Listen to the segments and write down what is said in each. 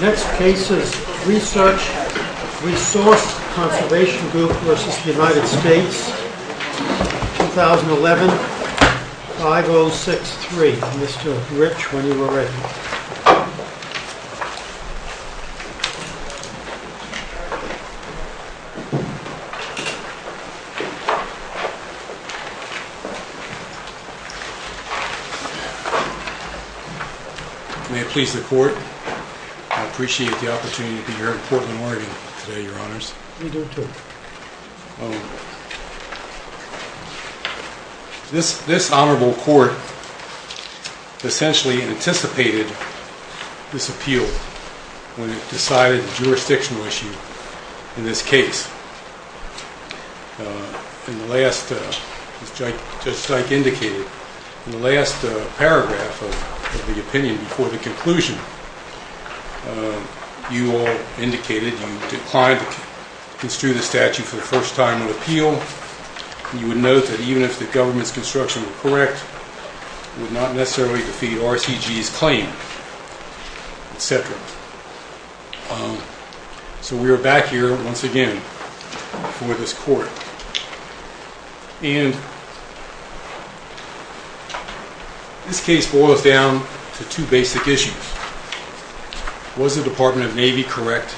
Next case is RESEARCH RESOURCE CONSERVATION GROUP v. United States, 2011, 5063. Mr. Rich, when you are ready. May it please the Court, I appreciate the opportunity to be here in Portland, Oregon today, Your Honors. Me too. This Honorable Court essentially anticipated this appeal when it decided the jurisdictional issue in this case. As Judge Dyke indicated, in the last paragraph of the opinion before the conclusion, you declined to construe the statute for the first time on appeal. You would note that even if the government's construction were correct, it would not necessarily defeat RCG's claim, etc. So we are back here once again for this Court. And this case boils down to two basic issues. Was the Department of Navy correct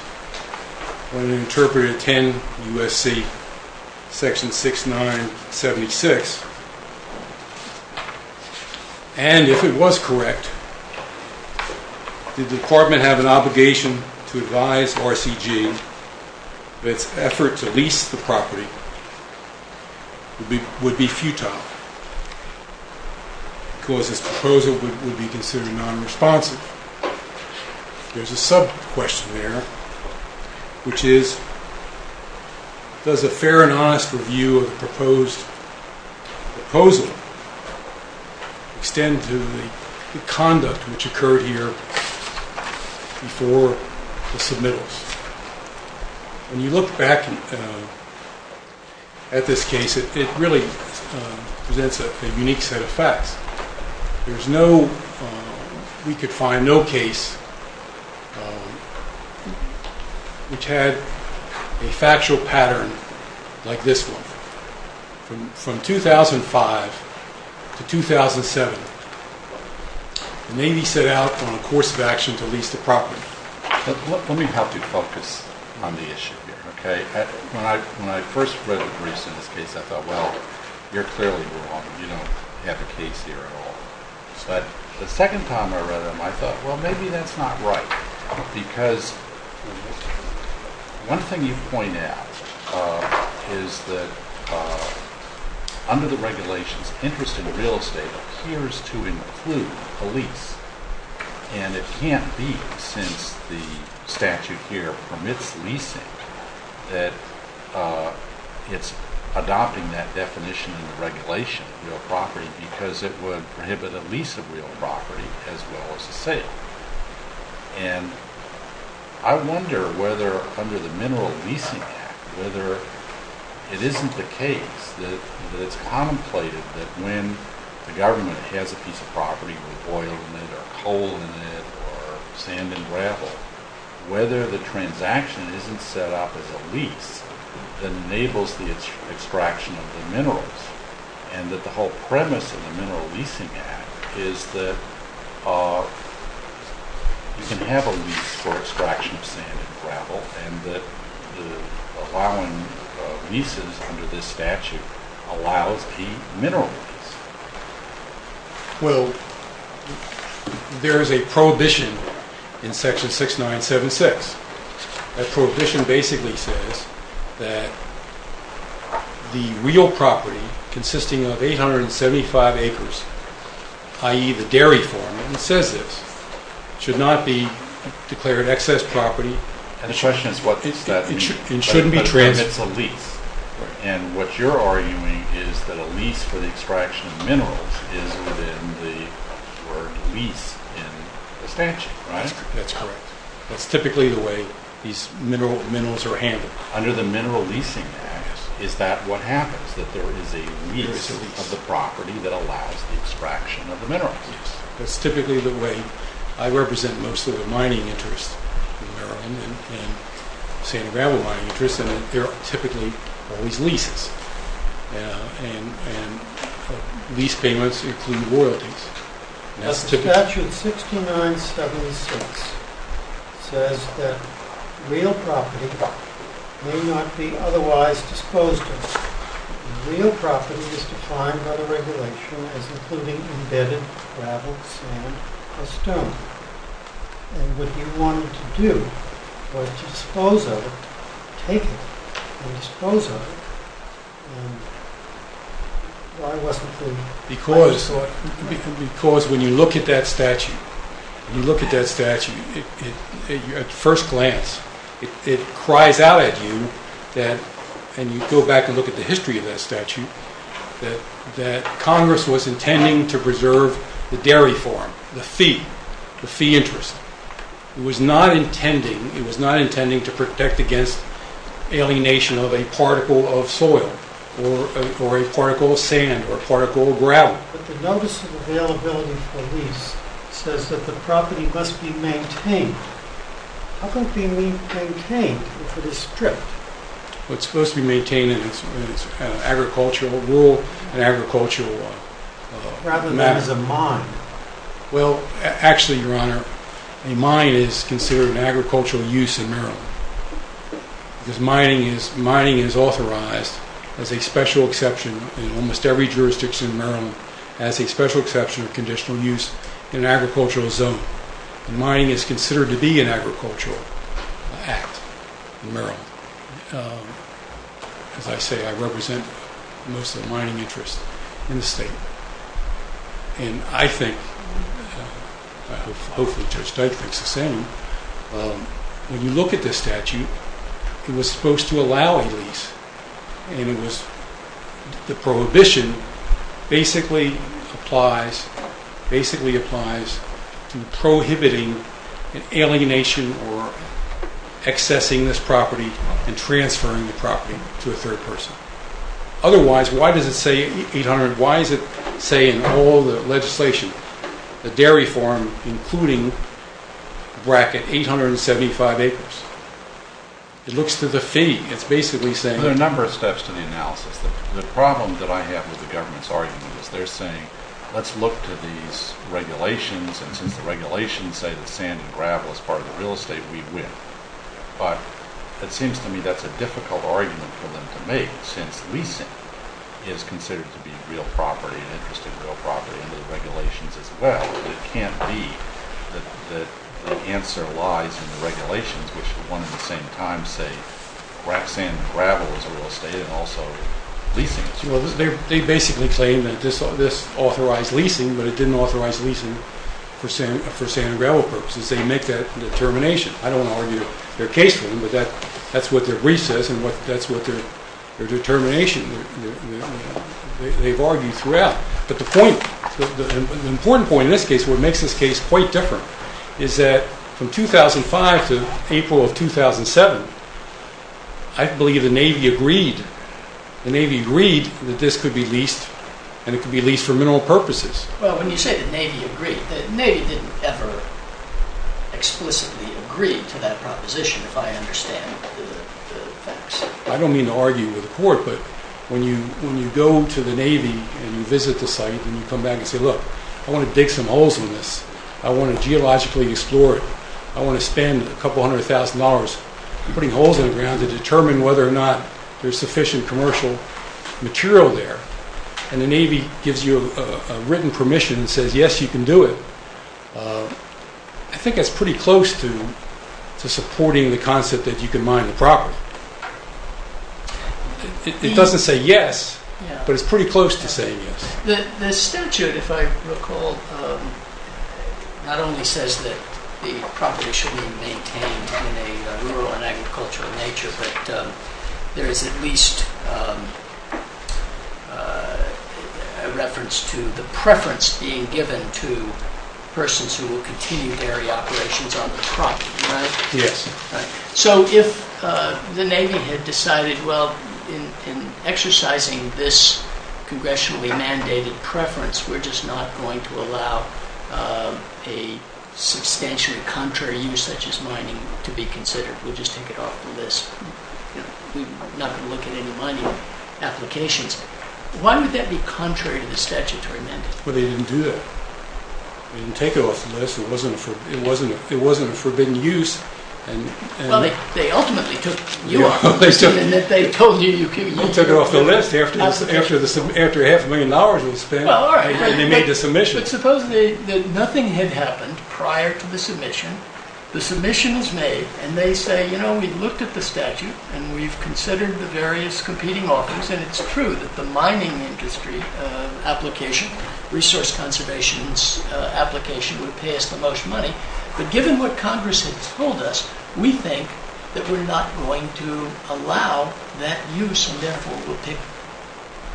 when it interpreted 10 U.S.C. section 6976? And if it was correct, did the Department have an obligation to advise RCG that its effort to lease the property would be futile because its proposal would be considered non-responsive? There's a sub-question there, which is, does a fair and honest review of the proposed proposal extend to the conduct which occurred here before the submittals? When you look back at this case, it really presents a unique set of facts. We could find no case which had a factual pattern like this one. From 2005 to 2007, the Navy set out on a course of action to lease the property. Let me help you focus on the issue here. When I first read the briefs in this case, I thought, well, you're clearly wrong. You don't have a case here at all. But the second time I read them, I thought, well, maybe that's not right. Because one thing you point out is that under the regulations, interest in the real estate appears to include a lease. And it can't be, since the statute here permits leasing, that it's adopting that because it would prohibit a lease of real property as well as a sale. And I wonder whether under the Mineral Leasing Act, whether it isn't the case that it's contemplated that when the government has a piece of property with oil in it or coal in it or sand and gravel, whether the transaction isn't set up as a lease that enables the extraction of the minerals. And that the whole premise of the Mineral Leasing Act is that you can have a lease for extraction of sand and gravel and that allowing leases under this statute allows the mineral lease. Well, there is a prohibition in section 6976. That prohibition basically says that the real property consisting of 875 acres, i.e. the dairy farm, and it says this, should not be declared excess property. And the question is what does that mean? It shouldn't be transferred. But then it's a lease. And what you're arguing is that a lease for the extraction of minerals is within the lease in the statute, right? That's correct. That's typically the way these minerals are handled. Under the Mineral Leasing Act, is that what happens? That there is a lease of the property that allows the extraction of the minerals? Yes. That's typically the way I represent most of the mining interests in Maryland and sand and gravel mining interests, and there are typically always leases. And lease payments include royalties. But the statute 6976 says that real property may not be otherwise disposed of. Real property is declined by the regulation as including embedded gravel, sand, or stone. And what you wanted to do was to dispose of it, take it, and dispose of it. Why wasn't it included? Because when you look at that statute, you look at that statute, at first glance, it cries out at you, and you go back and look at the history of that statute, that Congress was intending to preserve the dairy farm, the fee, the fee interest. It was not intending to protect against alienation of a particle of soil or a particle of sand or a particle of gravel. But the Notice of Availability for Lease says that the property must be maintained. How can it be maintained if it is stripped? Well, it's supposed to be maintained in its agricultural rule and agricultural manner. Rather than as a mine. Well, actually, Your Honor, a mine is considered an agricultural use in Maryland. Because mining is authorized as a special exception in almost every jurisdiction in Maryland as a special exception of conditional use in an agricultural zone. Mining is considered to be an agricultural act in Maryland. As I say, I represent most of the mining interest in the state. And I think, hopefully Judge Dike thinks the same, when you look at this statute, it was supposed to allow a lease. And the prohibition basically applies to prohibiting an alienation or accessing this property and transferring the property to a third person. Otherwise, why does it say 800? Why does it say in all the legislation, the dairy farm, including bracket 875 acres? It looks to the fee. It's basically saying... There are a number of steps to the analysis. The problem that I have with the government's argument is they're saying, let's look to these regulations and since the regulations say that sand and gravel is part of the real estate, we win. But it seems to me that's a difficult argument for them to make, since leasing is considered to be real property, an interest in real property, and the regulations as well. It can't be that the answer lies in the regulations, which at the same time say sand and gravel is a real estate and also leasing. They basically claim that this authorized leasing, but it didn't authorize leasing for sand and gravel purposes. They make that determination. I don't want to argue their case for them, but that's what their brief says and that's what their determination is. They've argued throughout. But the important point in this case, what makes this case quite different, is that from 2005 to April of 2007, I believe the Navy agreed. The Navy agreed that this could be leased and it could be leased for mineral purposes. Well, when you say the Navy agreed, the Navy didn't ever explicitly agree to that proposition, if I understand the facts. I don't mean to argue with the court, but when you go to the Navy and you visit the site and you come back and say, look, I want to dig some holes in this. I want to geologically explore it. I want to spend a couple hundred thousand dollars putting holes in the ground to determine whether or not there's sufficient commercial material there. And the Navy gives you a written permission and says, yes, you can do it. I think that's pretty close to supporting the concept that you can mine the property. It doesn't say yes, but it's pretty close to saying yes. The statute, if I recall, not only says that the property should be maintained in a rural and agricultural nature, but there is at least a reference to the preference being given to persons who will continue dairy operations on the property, right? Yes. So if the Navy had decided, well, in exercising this congressionally mandated preference, we're just not going to allow a substantially contrary use such as mining to be considered. We'll just take it off the list. We're not going to look at any mining applications. Why would that be contrary to the statutory mandate? Well, they didn't do that. They didn't take it off the list. It wasn't a forbidden use. Well, they ultimately took you off the list. They took it off the list after half a million dollars was spent. But suppose that nothing had happened prior to the submission. The submission is made, and they say, you know, we looked at the statute, and we've considered the various competing offers, and it's true that the mining industry application, resource conservation application, would pay us the most money. But given what Congress had told us, we think that we're not going to allow that use, and therefore we'll pick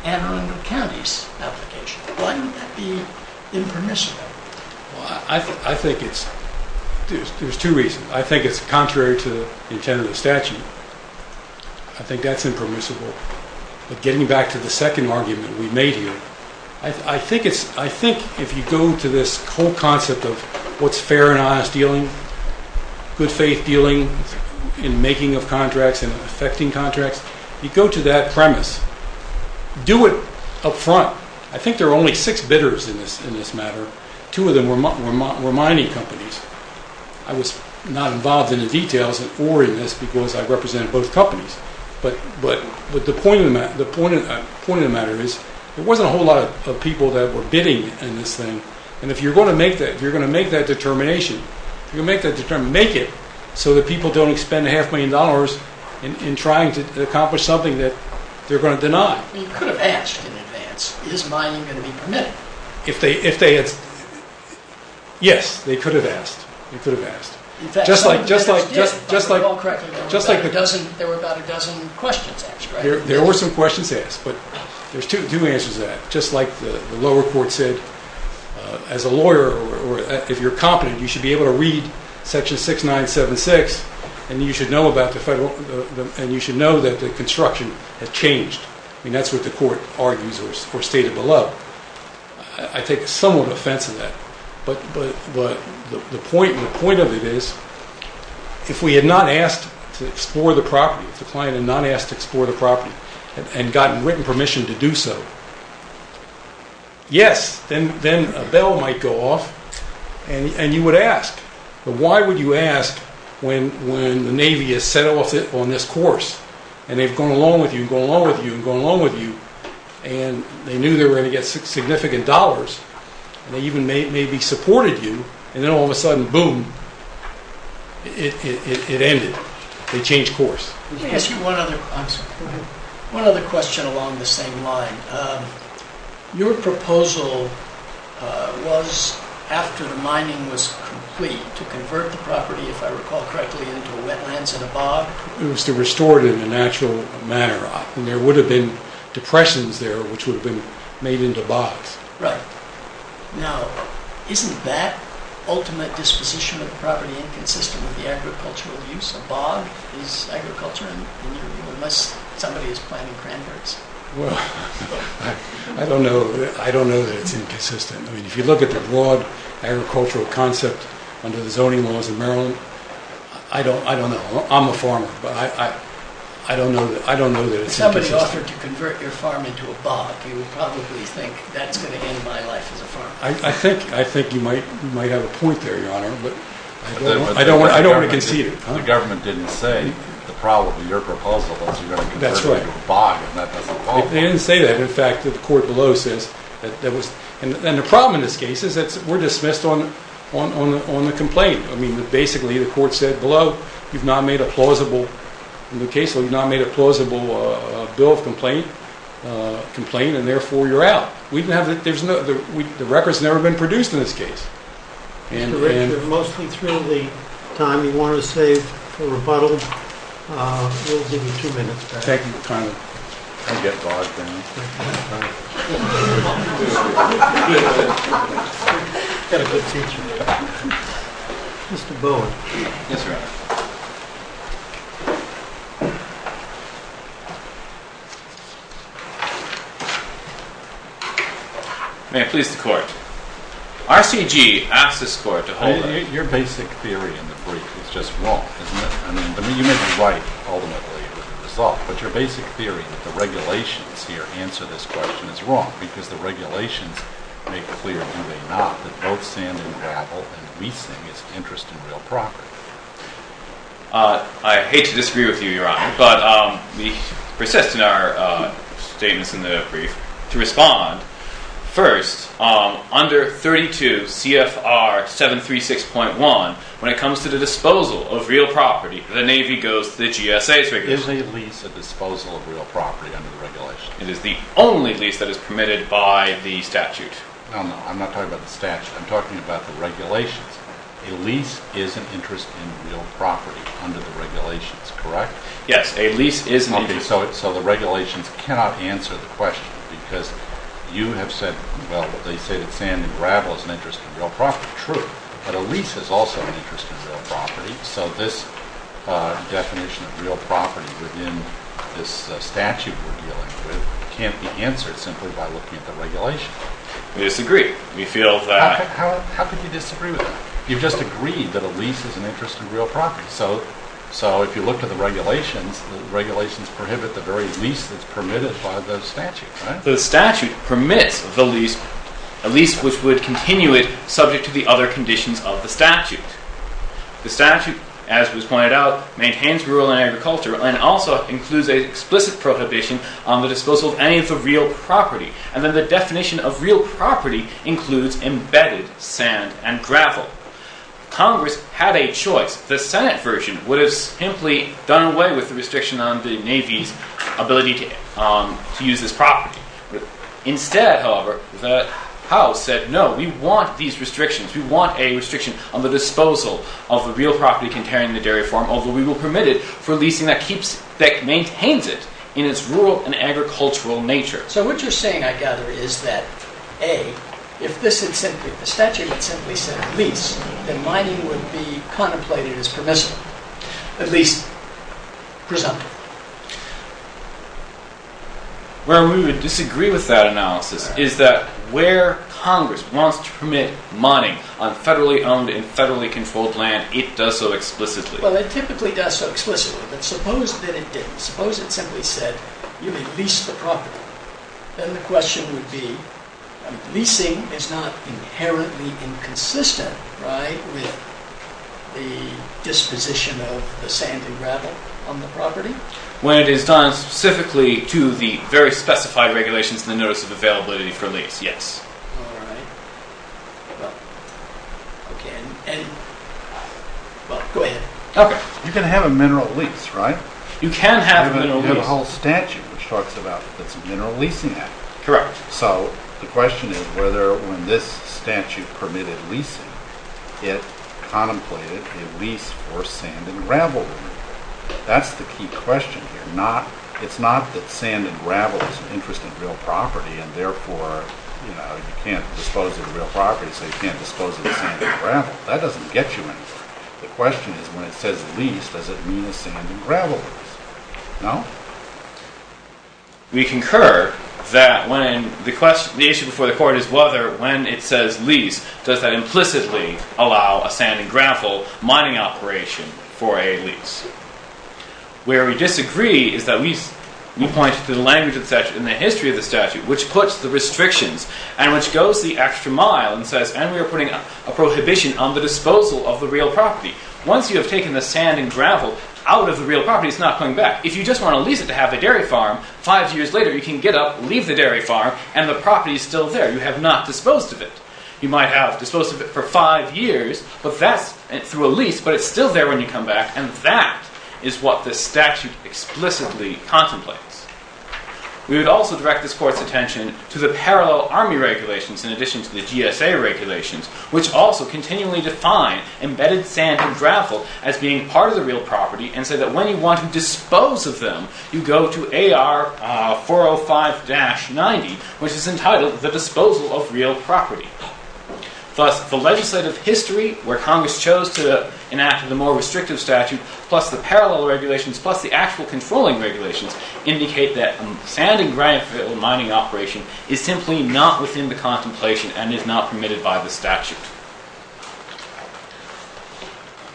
Anne Arundel County's application. Why wouldn't that be impermissible? Well, I think there's two reasons. I think it's contrary to the intent of the statute. I think that's impermissible. But getting back to the second argument we made here, I think if you go to this whole concept of what's fair and honest dealing, good faith dealing in making of contracts and affecting contracts, you go to that premise, do it up front. I think there are only six bidders in this matter. Two of them were mining companies. I was not involved in the details or in this because I represented both companies. But the point of the matter is there wasn't a whole lot of people that were bidding in this thing. And if you're going to make that determination, make it so that people don't expend a half million dollars in trying to accomplish something that they're going to deny. You could have asked in advance, is mining going to be permitted? Yes, they could have asked. They could have asked. Just like there were about a dozen questions asked, right? There were some questions asked, but there's two answers to that. Just like the lower court said as a lawyer, if you're competent, you should be able to read Section 6976, and you should know that the construction has changed. I mean, that's what the court argues or stated below. I take somewhat offense to that. But the point of it is if we had not asked to explore the property, if the client had not asked to explore the property and gotten written permission to do so, yes, then a bell might go off, and you would ask. But why would you ask when the Navy has set off on this course, and they've gone along with you and gone along with you and gone along with you, and they knew they were going to get significant dollars, and they even maybe supported you, and then all of a sudden, boom, it ended. They changed course. Let me ask you one other question along the same line. Your proposal was, after the mining was complete, to convert the property, if I recall correctly, into wetlands and a bog? It was to restore it in a natural manner. There would have been depressions there, which would have been made into bogs. Right. Now, isn't that ultimate disposition of the property inconsistent with the agricultural use? A bog is agriculture unless somebody is planting cranberries. Well, I don't know that it's inconsistent. If you look at the broad agricultural concept under the zoning laws in Maryland, I don't know. I'm a farmer, but I don't know that it's inconsistent. If somebody offered to convert your farm into a bog, you would probably think that's going to end my life as a farmer. I think you might have a point there, Your Honor, but I don't want to concede it. The government didn't say the problem with your proposal was you're going to convert it into a bog, and that doesn't qualify. They didn't say that. In fact, the court below says that. And the problem in this case is that we're dismissed on the complaint. I mean, basically, the court said below, you've not made a plausible bill of complaint, and therefore you're out. The record's never been produced in this case. Mr. Richard, we're mostly through the time you wanted to save for rebuttal. We'll give you two minutes back. Thank you. I'll get bogged down. You've got a good teacher. Mr. Bowen. Yes, Your Honor. May it please the Court. RCG asks this Court to hold on. Your basic theory in the brief is just wrong, isn't it? I mean, you may be right ultimately with the result, but your basic theory that the regulations here answer this question is wrong because the regulations make clear, do they not, that both sand and gravel and leasing is interest in real property. I hate to disagree with you, Your Honor, but we persist in our statements in the brief. To respond, first, under 32 CFR 736.1, when it comes to the disposal of real property, the Navy goes to the GSA's regulation. Is a lease a disposal of real property under the regulations? It is the only lease that is permitted by the statute. No, no, I'm not talking about the statute. I'm talking about the regulations. A lease is an interest in real property under the regulations, correct? Yes, a lease is an interest. Okay, so the regulations cannot answer the question because you have said, well, they say that sand and gravel is an interest in real property. True. But a lease is also an interest in real property, so this definition of real property within this statute we're dealing with can't be answered simply by looking at the regulations. I disagree. How could you disagree with that? You've just agreed that a lease is an interest in real property. So if you look at the regulations, the regulations prohibit the very lease that's permitted by the statute, right? The statute permits the lease, a lease which would continue it, subject to the other conditions of the statute. The statute, as was pointed out, maintains rural and agricultural and also includes an explicit prohibition on the disposal of any of the real property. And then the definition of real property includes embedded sand and gravel. Congress had a choice. The Senate version would have simply done away with the restriction on the Navy's ability to use this property. Instead, however, the House said, no, we want these restrictions. We want a restriction on the disposal of the real property containing the dairy farm, although we will permit it for leasing that maintains it in its rural and agricultural nature. So what you're saying, I gather, is that, A, if the statute had simply said lease, then mining would be contemplated as permissible, at least presumptive. Where we would disagree with that analysis is that where Congress wants to permit mining on federally owned and federally controlled land, it does so explicitly. Well, it typically does so explicitly, but suppose that it didn't. Suppose it simply said, you may lease the property. Then the question would be, leasing is not inherently inconsistent, right, with the disposition of the sand and gravel on the property? When it is done specifically to the very specified regulations in the Notice of Availability for Lease, yes. All right. Well, okay. And, well, go ahead. Okay. You can have a mineral lease, right? You can have a mineral lease. You have a whole statute which talks about that's a mineral leasing act. Correct. So the question is whether when this statute permitted leasing, it contemplated a lease for sand and gravel. That's the key question here. It's not that sand and gravel is an interest in real property, and therefore you can't dispose of real property, so you can't dispose of the sand and gravel. That doesn't get you anywhere. The question is when it says lease, does it mean a sand and gravel lease? No? We concur that when the issue before the court is whether when it says lease, does that implicitly allow a sand and gravel mining operation for a lease? Where we disagree is that we point to the language in the history of the statute which puts the restrictions and which goes the extra mile and says, and we are putting a prohibition on the disposal of the real property. Once you have taken the sand and gravel out of the real property, it's not going back. If you just want to lease it to have a dairy farm, five years later you can get up, leave the dairy farm, and the property is still there. You have not disposed of it. You might have disposed of it for five years through a lease, but it's still there when you come back, and that is what the statute explicitly contemplates. We would also direct this court's attention to the parallel army regulations in addition to the GSA regulations, which also continually define embedded sand and gravel as being part of the real property and say that when you want to dispose of them, you go to AR 405-90, which is entitled The Disposal of Real Property. Thus, the legislative history where Congress chose to enact the more restrictive statute plus the parallel regulations plus the actual controlling regulations indicate that a sand and gravel mining operation is simply not within the contemplation and is not permitted by the statute.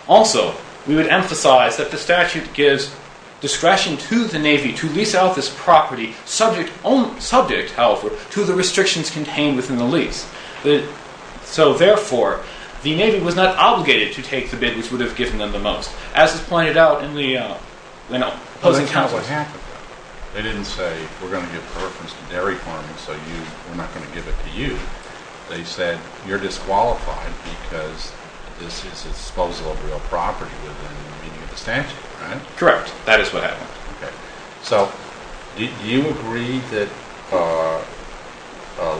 Also, we would emphasize that the statute gives discretion to the Navy to lease out this property subject, however, to the restrictions contained within the lease. So, therefore, the Navy was not obligated to take the bid which would have given them the most, as is pointed out in the opposing counsels. That's kind of what happened. They didn't say we're going to give preference to dairy farming, so we're not going to give it to you. They said you're disqualified because this is disposal of real property within the meaning of the statute, right? Correct. That is what happened. Okay. So, do you agree that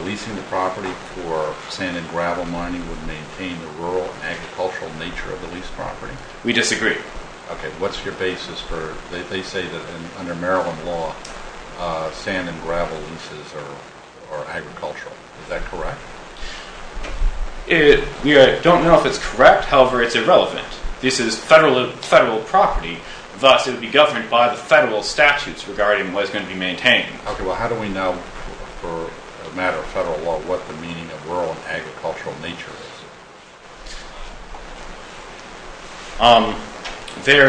leasing the property for sand and gravel mining would maintain the rural and agricultural nature of the leased property? We disagree. Okay. What's your basis for, they say that under Maryland law, sand and gravel leases are agricultural. Is that correct? We don't know if it's correct. However, it's irrelevant. This is federal property. Thus, it would be governed by the federal statutes regarding what is going to be maintained. Okay. Well, how do we know for a matter of federal law what the meaning of rural and agricultural nature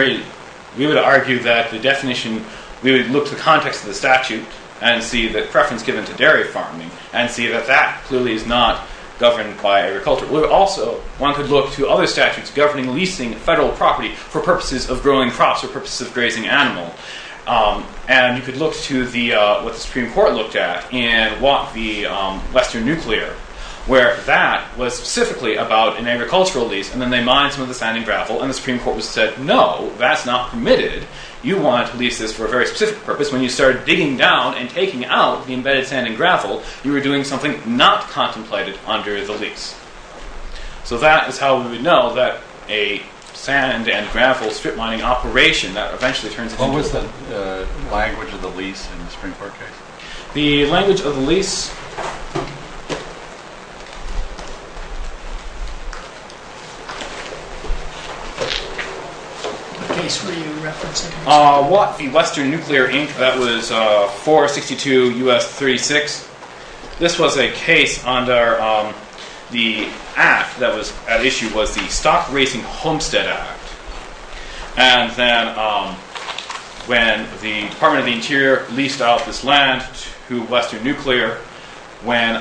is? We would argue that the definition, we would look to the context of the statute and see the preference given to dairy farming and see that that clearly is not governed by agriculture. Also, one could look to other statutes governing leasing federal property for purposes of growing crops or purposes of grazing animals. And you could look to what the Supreme Court looked at in the Western Nuclear, where that was specifically about an agricultural lease and then they mined some of the sand and gravel. And the Supreme Court said, no, that's not permitted. You want leases for a very specific purpose. When you started digging down and taking out the embedded sand and gravel, you were doing something not contemplated under the lease. So that is how we would know that a sand and gravel strip mining operation that eventually turns into… What was the language of the lease in the Supreme Court case? The language of the lease… What case were you referencing? The Western Nuclear Inc., that was 462 U.S. 36. This was a case under the act that was at issue, was the Stock Racing Homestead Act. And then when the Department of the Interior leased out this land to Western Nuclear, when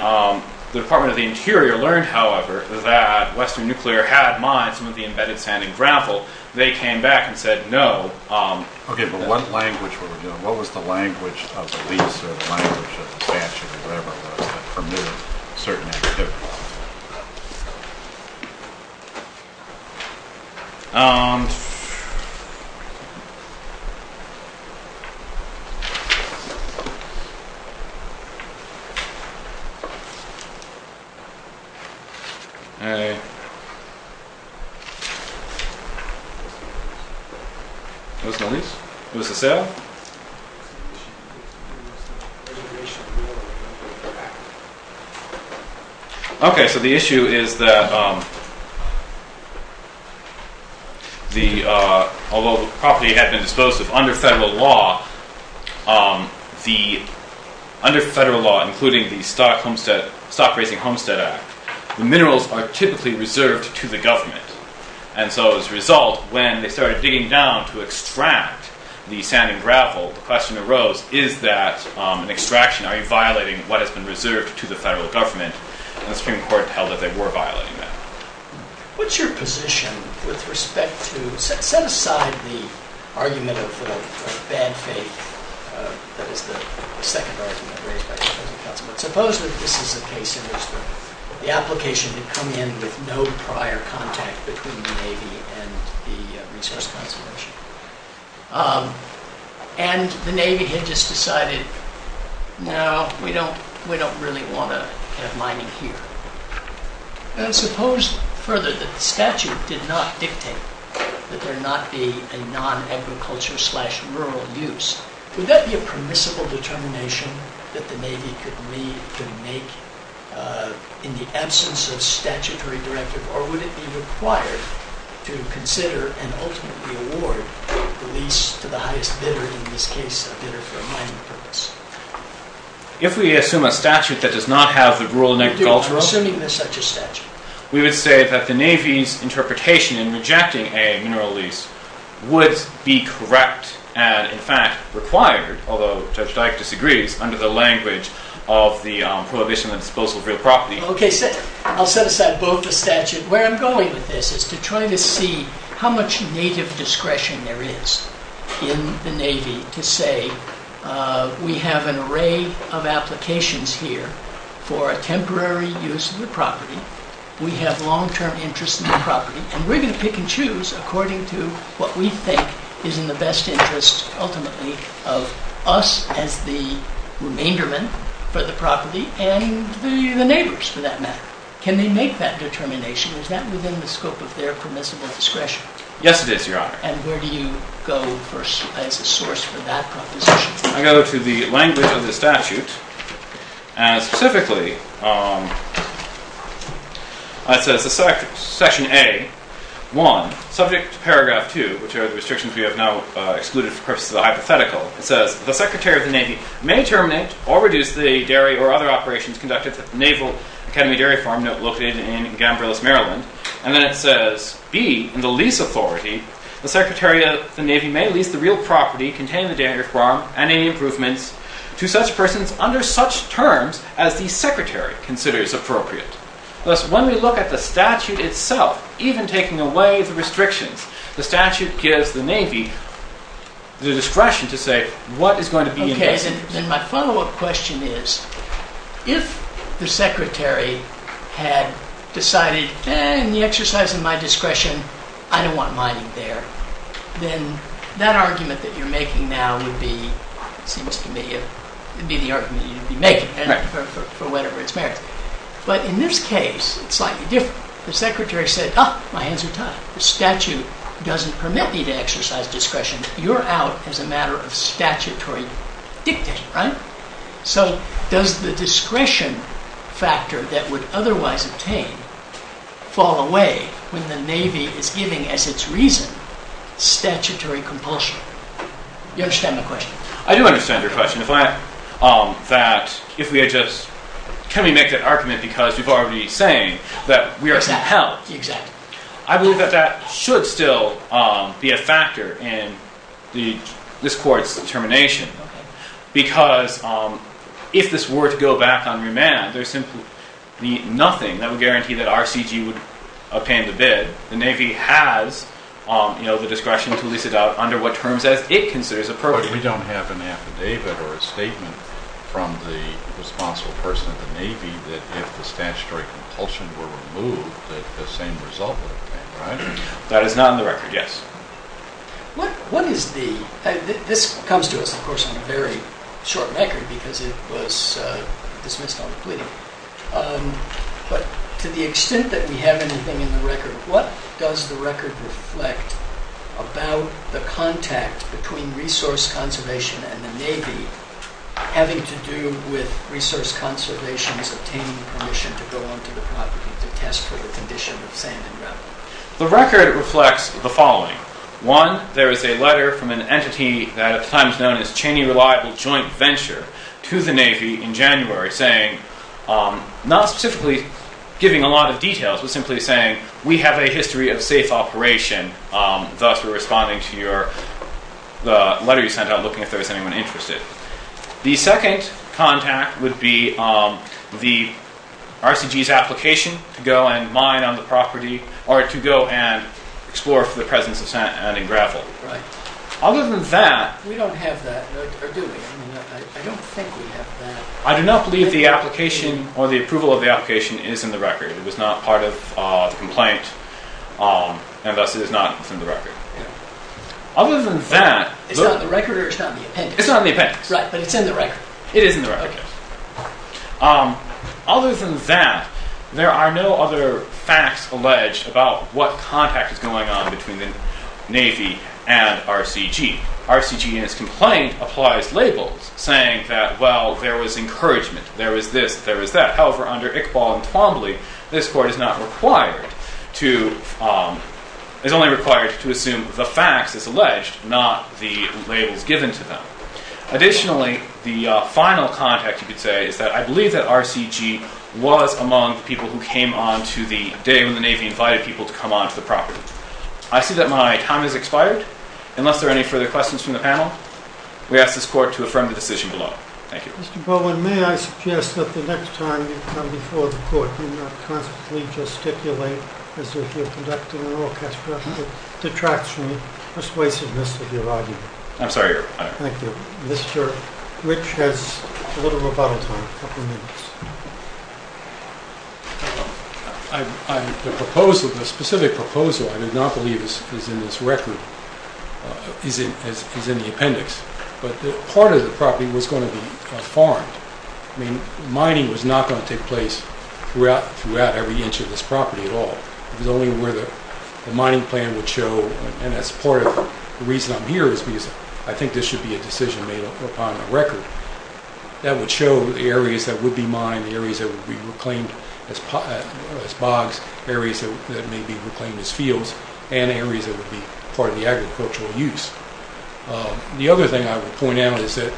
the Department of the Interior learned, however, that Western Nuclear had mined some of the embedded sand and gravel, they came back and said no. Okay, but what language were we doing? What was the language of the lease or the language of the statute that permitted certain activities? And… What was the lease? What was the sale? Okay, so the issue is that… Although the property had been disposed of under federal law, under federal law, including the Stock Racing Homestead Act, the minerals are typically reserved to the government. And so as a result, when they started digging down to extract the sand and gravel, the question arose, is that an extraction? Are you violating what has been reserved to the federal government? And the Supreme Court held that they were violating that. What's your position with respect to… Set aside the argument of bad faith, that is the second argument raised by the President of the Council. But suppose that this is a case in which the application had come in with no prior contact between the Navy and the Resource Conservation. And the Navy had just decided, no, we don't really want to have mining here. And suppose, further, that the statute did not dictate that there not be a non-agriculture slash rural use. Would that be a permissible determination that the Navy could make in the absence of statutory directive? Or would it be required to consider and ultimately award the lease to the highest bidder, in this case a bidder for a mining purpose? If we assume a statute that does not have the rural agricultural… You're assuming there's such a statute. We would say that the Navy's interpretation in rejecting a mineral lease would be correct and, in fact, required, although Judge Dyke disagrees, under the language of the prohibition on the disposal of real property. Okay, I'll set aside both the statute. Where I'm going with this is to try to see how much native discretion there is in the Navy to say, we have an array of applications here for a temporary use of the property. We have long-term interest in the property. And we're going to pick and choose according to what we think is in the best interest, ultimately, of us as the remaindermen for the property and the neighbors, for that matter. Can they make that determination? Is that within the scope of their permissible discretion? Yes, it is, Your Honor. And where do you go as a source for that proposition? I go to the language of the statute. And specifically, it says, Section A, 1, subject to Paragraph 2, which are the restrictions we have now excluded for purposes of the hypothetical. It says, the Secretary of the Navy may terminate or reduce the dairy or other operations conducted at the Naval Academy Dairy Farm, located in Gamberliss, Maryland. And then it says, B, in the lease authority, the Secretary of the Navy may lease the real property containing the dairy farm and any improvements to such persons under such terms as the Secretary considers appropriate. Thus, when we look at the statute itself, even taking away the restrictions, the statute gives the Navy the discretion to say what is going to be in best interest. My follow-up question is, if the Secretary had decided, in the exercise of my discretion, I don't want mining there, then that argument that you're making now would be the argument you'd be making for whatever its merits. But in this case, it's slightly different. The Secretary said, my hands are tied. The statute doesn't permit me to exercise discretion. You're out as a matter of statutory dictation, right? So does the discretion factor that would otherwise obtain fall away when the Navy is giving, as its reason, statutory compulsion? You understand my question? I do understand your question. Can we make that argument because you've already been saying that we are compelled. Exactly. I believe that that should still be a factor in this Court's determination because if this were to go back on remand, there's simply nothing that would guarantee that RCG would obtain the bid. The Navy has the discretion to lease it out under what terms it considers appropriate. But we don't have an affidavit or a statement from the responsible person of the Navy that if the statutory compulsion were removed, that the same result would have been, right? That is not on the record, yes. This comes to us, of course, on a very short record because it was dismissed on a plea. But to the extent that we have anything in the record, what does the record reflect about the contact between resource conservation and the Navy having to do with resource conservation's obtaining permission to go onto the property to test for the condition of sand and gravel? The record reflects the following. One, there is a letter from an entity that at the time was known as Cheney Reliable Joint Venture to the Navy in January saying, not specifically giving a lot of details, but simply saying, we have a history of safe operation. Thus, we're responding to the letter you sent out, looking if there was anyone interested. The second contact would be the RCG's application to go and mine on the property or to go and explore for the presence of sand and gravel. Right. Other than that... We don't have that, or do we? I don't think we have that. I do not believe the application or the approval of the application is in the record. It was not part of the complaint, and thus it is not in the record. Other than that... It's not in the record or it's not in the appendix? It's not in the appendix. Right, but it's in the record. It is in the record. Okay. Other than that, there are no other facts alleged about what contact is going on between the Navy and RCG. RCG in its complaint applies labels saying that, well, there was encouragement, there was this, there was that. However, under Iqbal and Twombly, this Court is only required to assume the facts as alleged, not the labels given to them. Additionally, the final contact, you could say, is that I believe that RCG was among the people who came on to the day when the Navy invited people to come on to the property. I see that my time has expired. Unless there are any further questions from the panel, we ask this Court to affirm the decision below. Thank you. Mr. Bowen, may I suggest that the next time you come before the Court, you not constantly gesticulate as if you're conducting an orchestra. It detracts from the persuasiveness of your argument. I'm sorry, Your Honor. Thank you. Mr. Rich has a little bit of bottle time, a couple minutes. The proposal, the specific proposal, I do not believe is in this record, is in the appendix. But part of the property was going to be farmed. I mean, mining was not going to take place throughout every inch of this property at all. It was only where the mining plan would show, and that's part of the reason I'm here is because I think this should be a decision made upon the record. That would show the areas that would be mined, the areas that would be reclaimed as bogs, areas that may be reclaimed as fields, and areas that would be part of the agricultural use. The other thing I would point out is that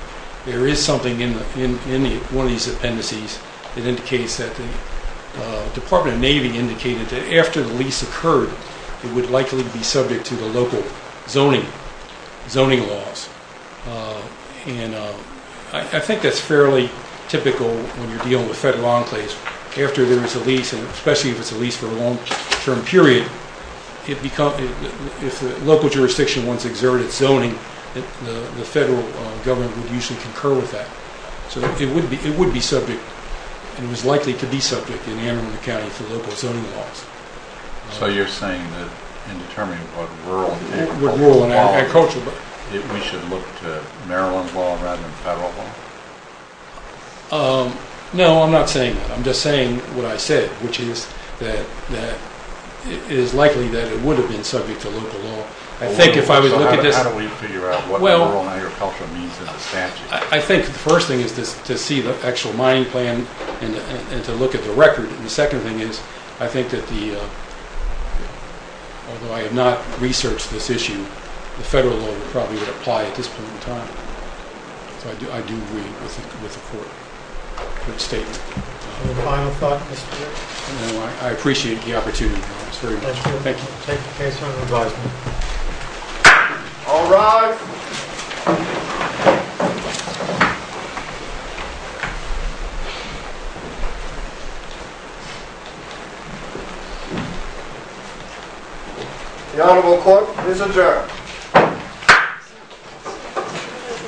there is something in one of these appendices that indicates that the Department of Navy indicated that after the lease occurred, it would likely be subject to the local zoning laws. And I think that's fairly typical when you're dealing with federal enclaves. After there is a lease, and especially if it's a lease for a long-term period, if the local jurisdiction wants exerted zoning, the federal government would usually concur with that. So it would be subject and was likely to be subject in the amendment of the county for local zoning laws. So you're saying that in determining what rural and agricultural law, we should look to Maryland law rather than federal law? No, I'm not saying that. I'm just saying what I said, which is that it is likely that it would have been subject to local law. How do we figure out what rural agriculture means in this statute? I think the first thing is to see the actual mining plan and to look at the record. And the second thing is, I think that although I have not researched this issue, the federal law would probably apply at this point in time. So I do agree with the court's statement. Any final thoughts, Mr. Chairman? No, I appreciate the opportunity. Thank you. I'll take the case under advisement. All rise. The Honorable Court is adjourned.